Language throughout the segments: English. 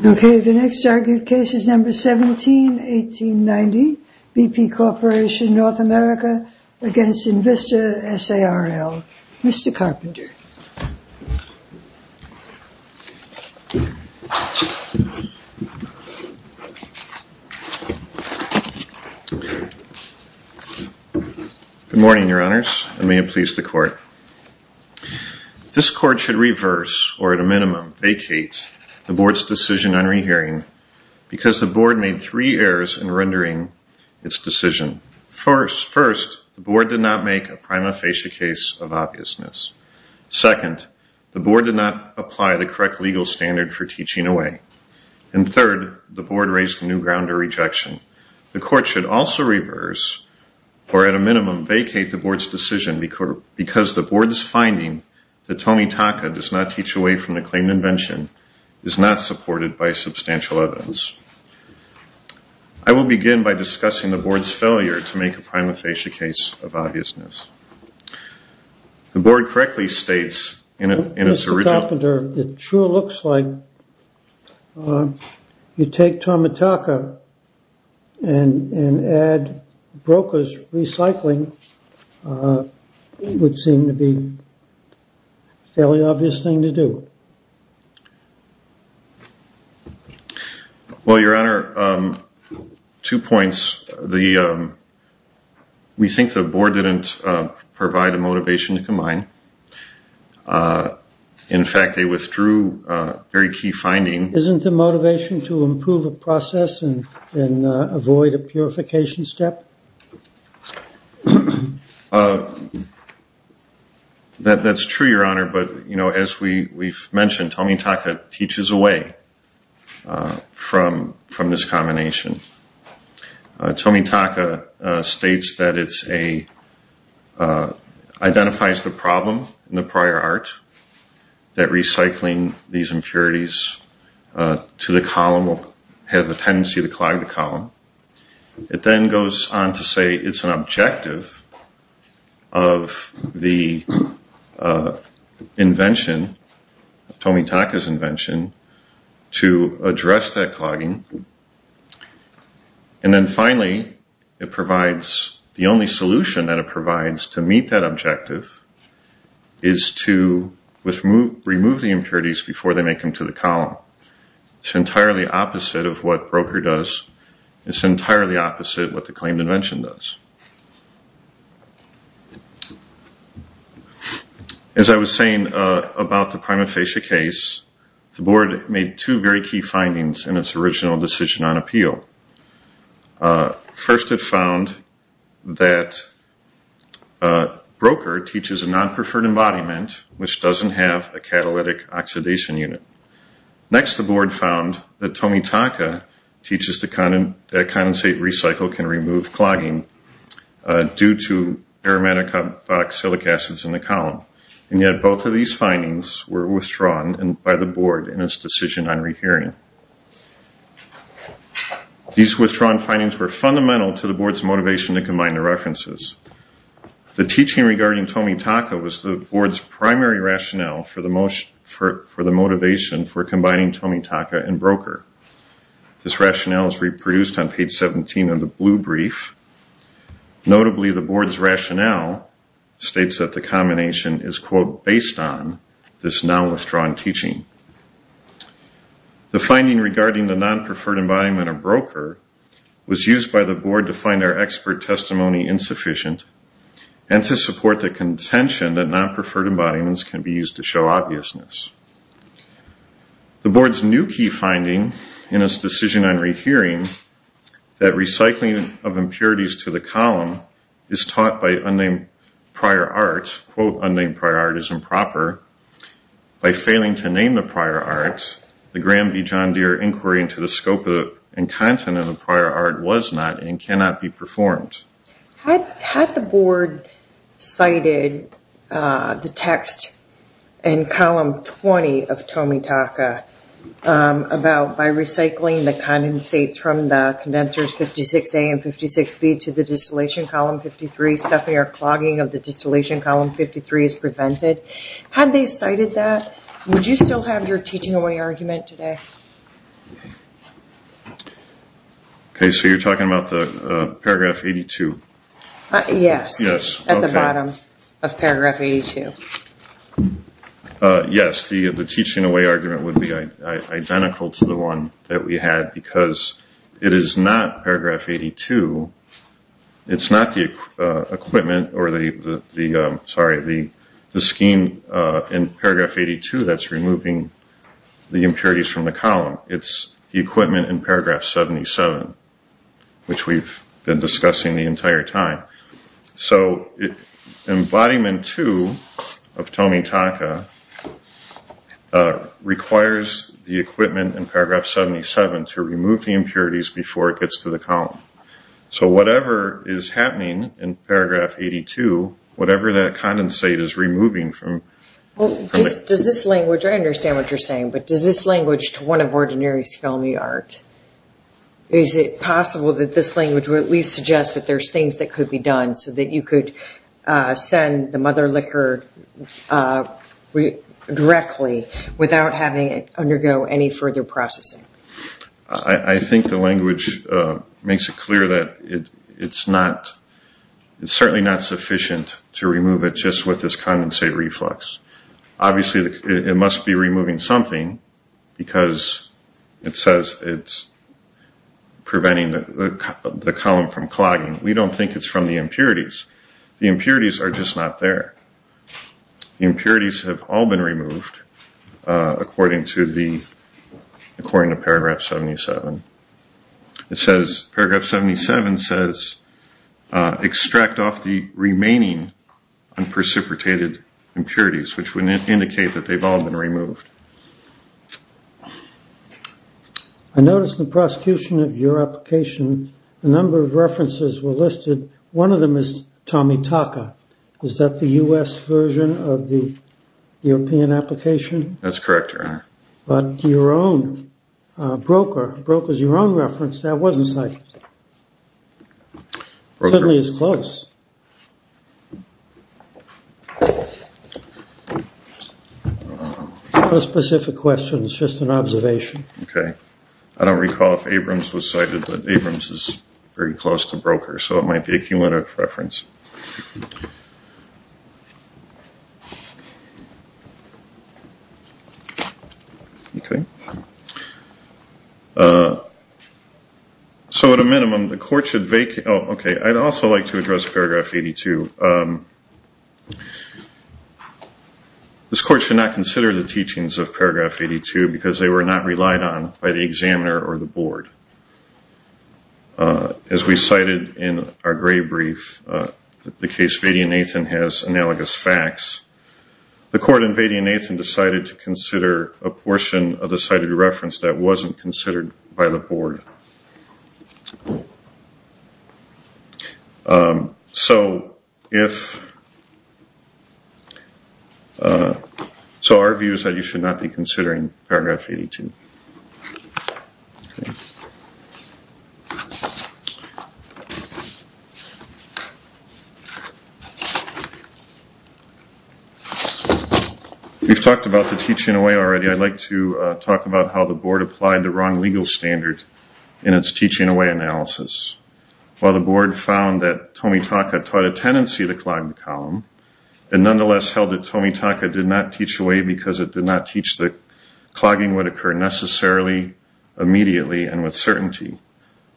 This is a recording of the meeting of the INVISTA S.a.r.l. Corporation North America v. INVISTA S.a.r.l. Okay, the next argued case is number 17-1890, BP Corporation North America v. INVISTA S.a.r.l. Mr. Carpenter. Good morning, your honors, and may it please the court. This court should reverse, or at a minimum vacate, the board's decision on rehearing because the board made three errors in rendering its decision. First, the board did not make a prima facie case of obviousness. Second, the board did not apply the correct legal standard for teaching away. And third, the board raised a new ground of rejection. The court should also reverse, or at a minimum vacate, the board's decision because the board's finding that Tomitaka does not teach away from the claimant invention is not supported by substantial evidence. I will begin by discussing the board's failure to make a prima facie case of obviousness. The board correctly states in its original... Mr. Carpenter, it sure looks like you take Tomitaka and add Broca's recycling would seem to be a fairly obvious thing to do. Well, your honor, two points. We think the board didn't provide a motivation to combine. In fact, they withdrew very key findings. Isn't the motivation to improve a process and avoid a purification step? That's true, your honor, but as we've mentioned, Tomitaka teaches away from this combination. Tomitaka states that it identifies the problem in the prior art that recycling these impurities to the column will have the tendency to clog the column. It then goes on to say it's an objective of the invention, Tomitaka's invention, to address that clogging. And then finally, it provides the only solution that it provides to meet that objective is to remove the impurities before they make them to the column. It's entirely opposite of what Broca does. It's entirely opposite of what the claimed invention does. As I was saying about the prima facie case, the board made two very key findings in its original decision on appeal. First, it found that Broca teaches a non-preferred embodiment which doesn't have a catalytic oxidation unit. Next, the board found that Tomitaka teaches that condensate recycle can remove clogging due to aromatic oxalic acids in the column. And yet both of these findings were withdrawn by the board in its decision on rehearing. These withdrawn findings were fundamental to the board's motivation to combine the references. The teaching regarding Tomitaka was the board's primary rationale for the motivation for combining Tomitaka and Broca. This rationale is reproduced on page 17 of the blue brief. Notably, the board's rationale states that the combination is, quote, based on this now-withdrawn teaching. The finding regarding the non-preferred embodiment of Broca was used by the board to find our expert testimony insufficient and to support the contention that non-preferred embodiments can be used to show obviousness. The board's new key finding in its decision on rehearing, that recycling of impurities to the column is taught by unnamed prior art, quote, unnamed prior art is improper. By failing to name the prior art, the Graham v. John Deere inquiry into the scope and content of the prior art was not and cannot be performed. Had the board cited the text in column 20 of Tomitaka about by recycling the condensates from the condensers 56A and 56B to the distillation column 53, stuffing or clogging of the distillation column 53 is prevented? Had they cited that? Would you still have your teaching away argument today? Okay, so you're talking about the paragraph 82? Yes. Yes, okay. At the bottom of paragraph 82. Yes, the teaching away argument would be identical to the one that we had because it is not paragraph 82. It's not the equipment or the, sorry, the scheme in paragraph 82 that's removing the impurities from the column. It's the equipment in paragraph 77, which we've been discussing the entire time. So embodiment two of Tomitaka requires the equipment in paragraph 77 to remove the impurities before it gets to the column. So whatever is happening in paragraph 82, whatever that condensate is removing from. Well, does this language, I understand what you're saying, but does this language to one of ordinary's filmy art? Is it possible that this language would at least suggest that there's things that could be done so that you could send the mother liquor directly without having it undergo any further processing? I think the language makes it clear that it's certainly not sufficient to remove it just with this condensate reflux. Obviously, it must be removing something because it says it's preventing the column from clogging. We don't think it's from the impurities. The impurities are just not there. The impurities have all been removed according to the, according to paragraph 77. It says, paragraph 77 says, extract off the remaining and precipitated impurities, which would indicate that they've all been removed. I noticed the prosecution of your application. A number of references were listed. One of them is Tomitaka. Is that the U.S. version of the European application? That's correct, Your Honor. But your own, Broker, Broker's your own reference. That wasn't cited. It certainly is close. No specific question. It's just an observation. Okay. I don't recall if Abrams was cited, but Abrams is very close to Broker, so it might be a cumulative reference. Okay. So at a minimum, the court should vacate. Oh, okay. I'd also like to address paragraph 82. This court should not consider the teachings of paragraph 82 because they were not relied on by the examiner or the board. As we cited in our gray brief, the case Vady and Nathan has analogous facts. The court in Vady and Nathan decided to consider a portion of the cited reference that wasn't considered by the board. So our view is that you should not be considering paragraph 82. We've talked about the teaching away already. I'd like to talk about how the board applied the wrong legal standard in its teaching away analysis. While the board found that Tomitaka taught a tendency to clog the column and nonetheless held that Tomitaka did not teach away because it did not teach that clogging would occur necessarily, immediately, and with certainty,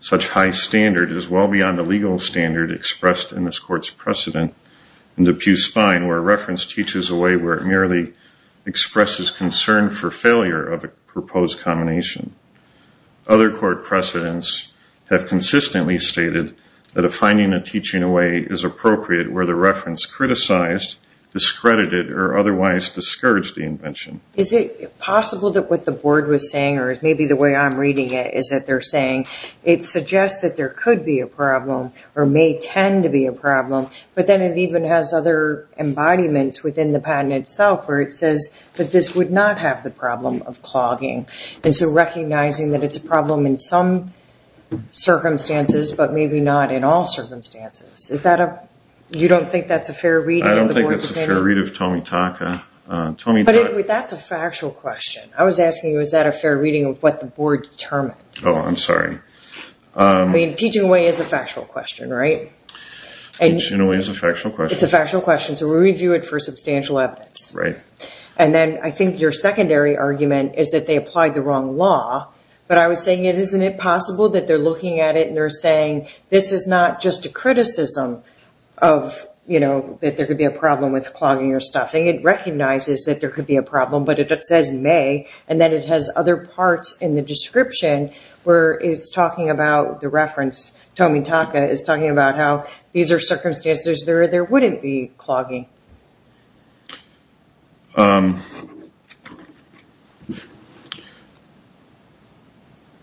such high standard is well beyond the legal standard expressed in this court's precedent in the Pew Spine where reference teaches away where it merely expresses concern for failure of a proposed combination. Other court precedents have consistently stated that a finding of teaching away is appropriate where the reference criticized, discredited, or otherwise discouraged the invention. Is it possible that what the board was saying, or maybe the way I'm reading it, is that they're saying it suggests that there could be a problem, or may tend to be a problem, but then it even has other embodiments within the patent itself where it says that this would not have the problem of clogging. And so recognizing that it's a problem in some circumstances, but maybe not in all circumstances. You don't think that's a fair reading of the board's opinion? I don't think that's a fair read of Tomitaka. But that's a factual question. I was asking you, is that a fair reading of what the board determined? Oh, I'm sorry. I mean, teaching away is a factual question, right? Teaching away is a factual question. It's a factual question, so we review it for substantial evidence. And then I think your secondary argument is that they applied the wrong law, but I was saying, isn't it possible that they're looking at it and they're saying, this is not just a criticism of, you know, that there could be a problem with clogging or stuff. So recognizing that there could be a problem, but it says may, and then it has other parts in the description where it's talking about the reference. Tomitaka is talking about how these are circumstances where there wouldn't be clogging.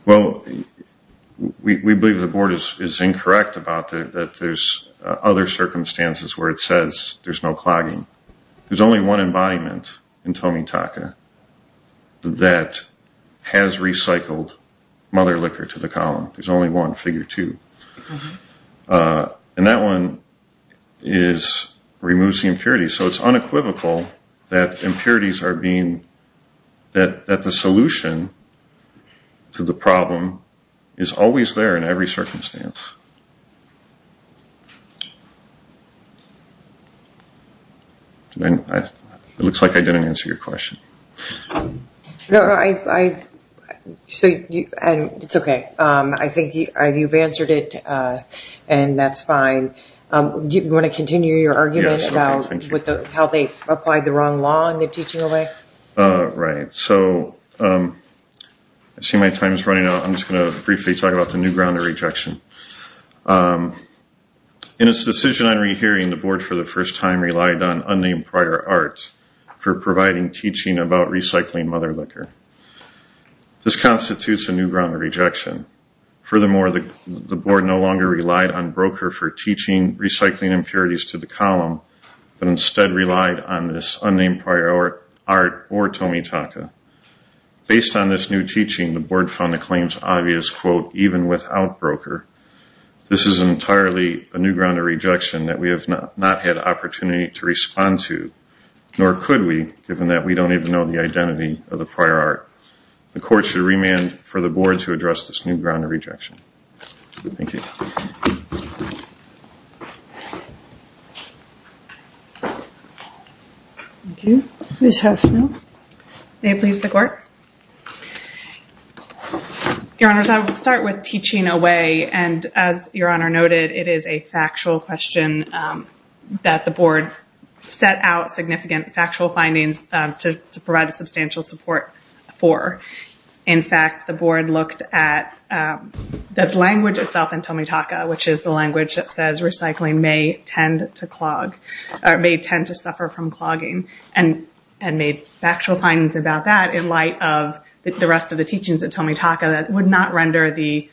Well, we believe the board is incorrect about that there's other circumstances where it says there's no clogging. There's no embodiment in Tomitaka that has recycled mother liquor to the column. There's only one, figure two. And that one removes the impurities. So it's unequivocal that impurities are being, that the solution to the problem is always there in every circumstance. It looks like I didn't answer your question. No, it's okay. I think you've answered it, and that's fine. Do you want to continue your argument about how they applied the wrong law in the teaching away? Right. So I see my time is running out. I'm just going to briefly talk about the new ground of rejection. In its decision on rehearing, the board for the first time relied on unnamed prior art for providing teaching about recycling mother liquor. This constitutes a new ground of rejection. Furthermore, the board no longer relied on broker for teaching recycling impurities to the column, but instead relied on this unnamed prior art or Tomitaka. Based on this new teaching, the board found the claims obvious, quote, even without broker. This is entirely a new ground of rejection that we have not had opportunity to respond to, nor could we, given that we don't even know the identity of the prior art. The court should remand for the board to address this new ground of rejection. Thank you. Thank you. Ms. Huffman. May it please the court? Your Honors, I will start with teaching away, and as Your Honor noted, it is a factual question that the board set out significant factual findings to provide substantial support for. In fact, the board looked at the language itself in Tomitaka, which is the language that says recycling may tend to clog, or may tend to suffer from clogging. And made factual findings about that in light of the rest of the teachings of Tomitaka that would not render the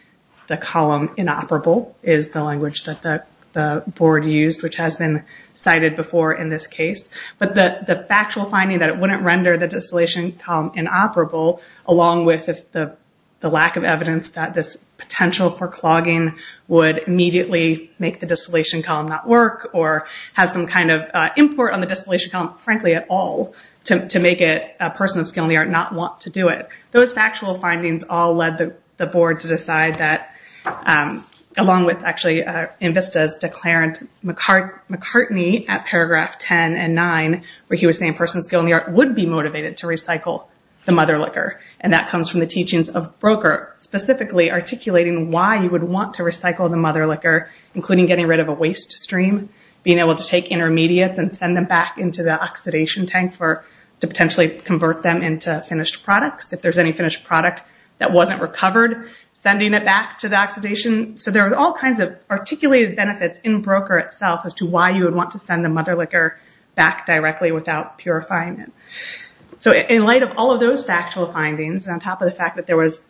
column inoperable, is the language that the board used, which has been cited before in this case. But the factual finding that it wouldn't render the distillation column inoperable, along with the lack of evidence that this potential for clogging would immediately make the distillation column not work, or have some kind of import on the distillation column, frankly at all, to make it a person of skill in the art not want to do it. Those factual findings all led the board to decide that, along with actually in Vista's declarant, McCartney at paragraph 10 and 9, where he was saying person of skill in the art would be motivated to recycle the mother liquor. And that comes from the teachings of Broker, specifically articulating why you would want to recycle the mother liquor, including getting rid of a waste stream, being able to take intermediates and send them back into the oxidation tank to potentially convert them into finished products. If there's any finished product that wasn't recovered, sending it back to the oxidation. So there are all kinds of articulated benefits in Broker itself as to why you would want to send the mother liquor back directly without purifying it. So in light of all of those factual findings, on top of the fact that there was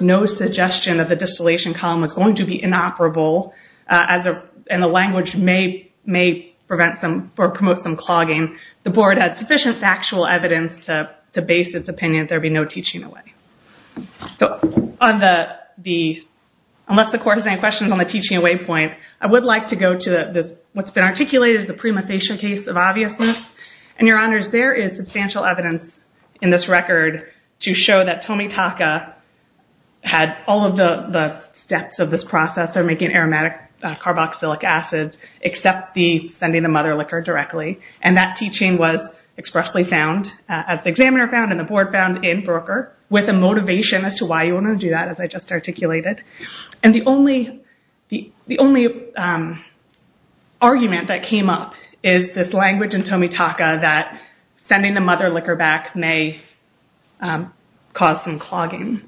no suggestion that the distillation column was going to be inoperable, and the language may promote some clogging, the board had sufficient factual evidence to base its opinion that there would be no teaching away. Unless the court has any questions on the teaching away point, I would like to go to what's been articulated as the prima facie case of obviousness. And your honors, there is substantial evidence in this record to show that Tomitaka had all of the steps of this process of making aromatic carboxylic acids, except the sending the mother liquor directly. And that teaching was expressly found, as the examiner found and the board found in Broker, with a motivation as to why you want to do that, as I just articulated. And the only argument that came up is this language in Tomitaka that sending the mother liquor back may cause some clogging.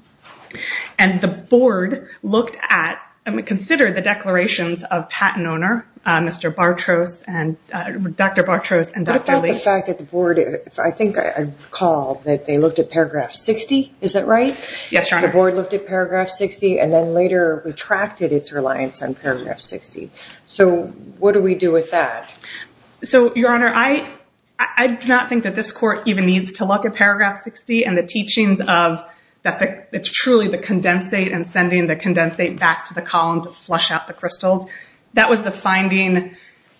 And the board looked at and considered the declarations of patent owner, Dr. Bartros and Dr. Lee. What about the fact that the board, I think I recall that they looked at paragraph 60, is that right? Yes, your honor. The board looked at paragraph 60 and then later retracted its reliance on paragraph 60. So what do we do with that? So your honor, I do not think that this court even needs to look at paragraph 60 and the teachings of that it's truly the condensate and sending the condensate back to the column to flush out the crystals. That was the finding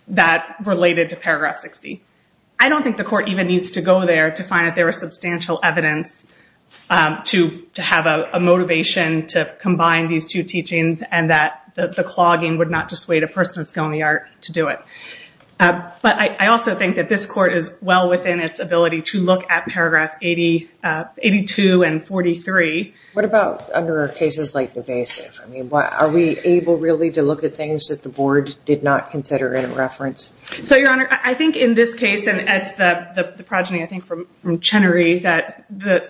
that related to paragraph 60. I don't think the court even needs to go there to find that there was substantial evidence to have a motivation to combine these two teachings and that the clogging would not dissuade a person of skill in the art to do it. But I also think that this court is well within its ability to look at paragraph 82 and 43. What about under cases like evasive? Are we able really to look at things that the board did not consider in a reference? So your honor, I think in this case, and it's the progeny I think from Chenery, that the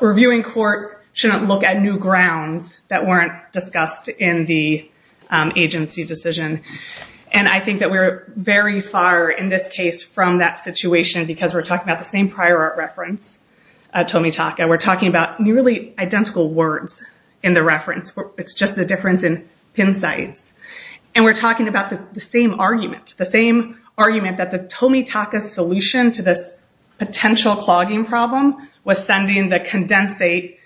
reviewing court shouldn't look at new grounds that weren't discussed in the agency decision. And I think that we're very far in this case from that situation because we're talking about the same prior art reference, Tomitaka. We're talking about nearly identical words in the reference. It's just the difference in pin sites. And we're talking about the same argument. The same argument that the Tomitaka solution to this potential clogging problem was sending the condensate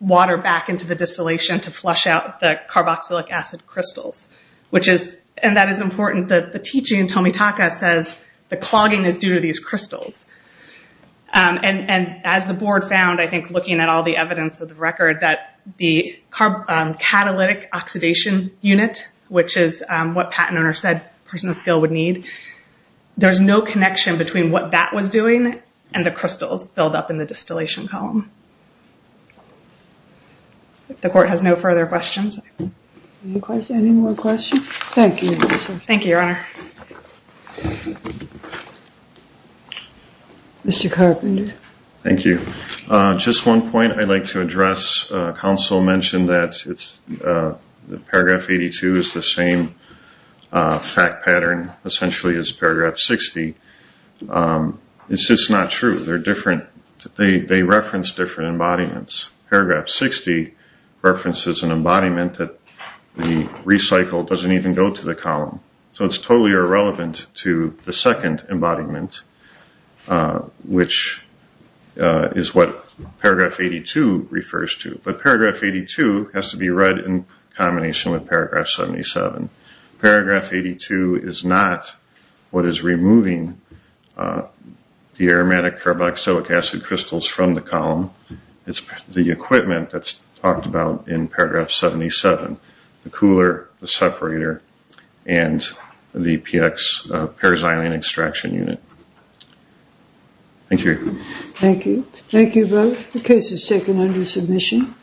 water back into the distillation to flush out the carboxylic acid crystals. And that is important. The teaching in Tomitaka says the clogging is due to these crystals. And as the board found, I think looking at all the evidence of the record, that the catalytic oxidation unit, which is what patent owner said person of skill would need, there's no connection between what that was doing and the crystals filled up in the distillation column. The court has no further questions. Any more questions? Thank you. Thank you, your honor. Mr. Carpenter. Thank you. Just one point I'd like to address. Counsel mentioned that paragraph 82 is the same fact pattern essentially as paragraph 60. It's just not true. They're different. They reference different embodiments. Paragraph 60 references an embodiment that the recycle doesn't even go to the column. So it's totally irrelevant to the second embodiment, which is what paragraph 82 refers to. But paragraph 82 has to be read in combination with paragraph 77. Paragraph 82 is not what is removing the aromatic carboxylic acid crystals from the column. It's the equipment that's talked about in paragraph 77, the cooler, the separator, and the PX perazolene extraction unit. Thank you. Thank you. Thank you both. The case is taken under submission.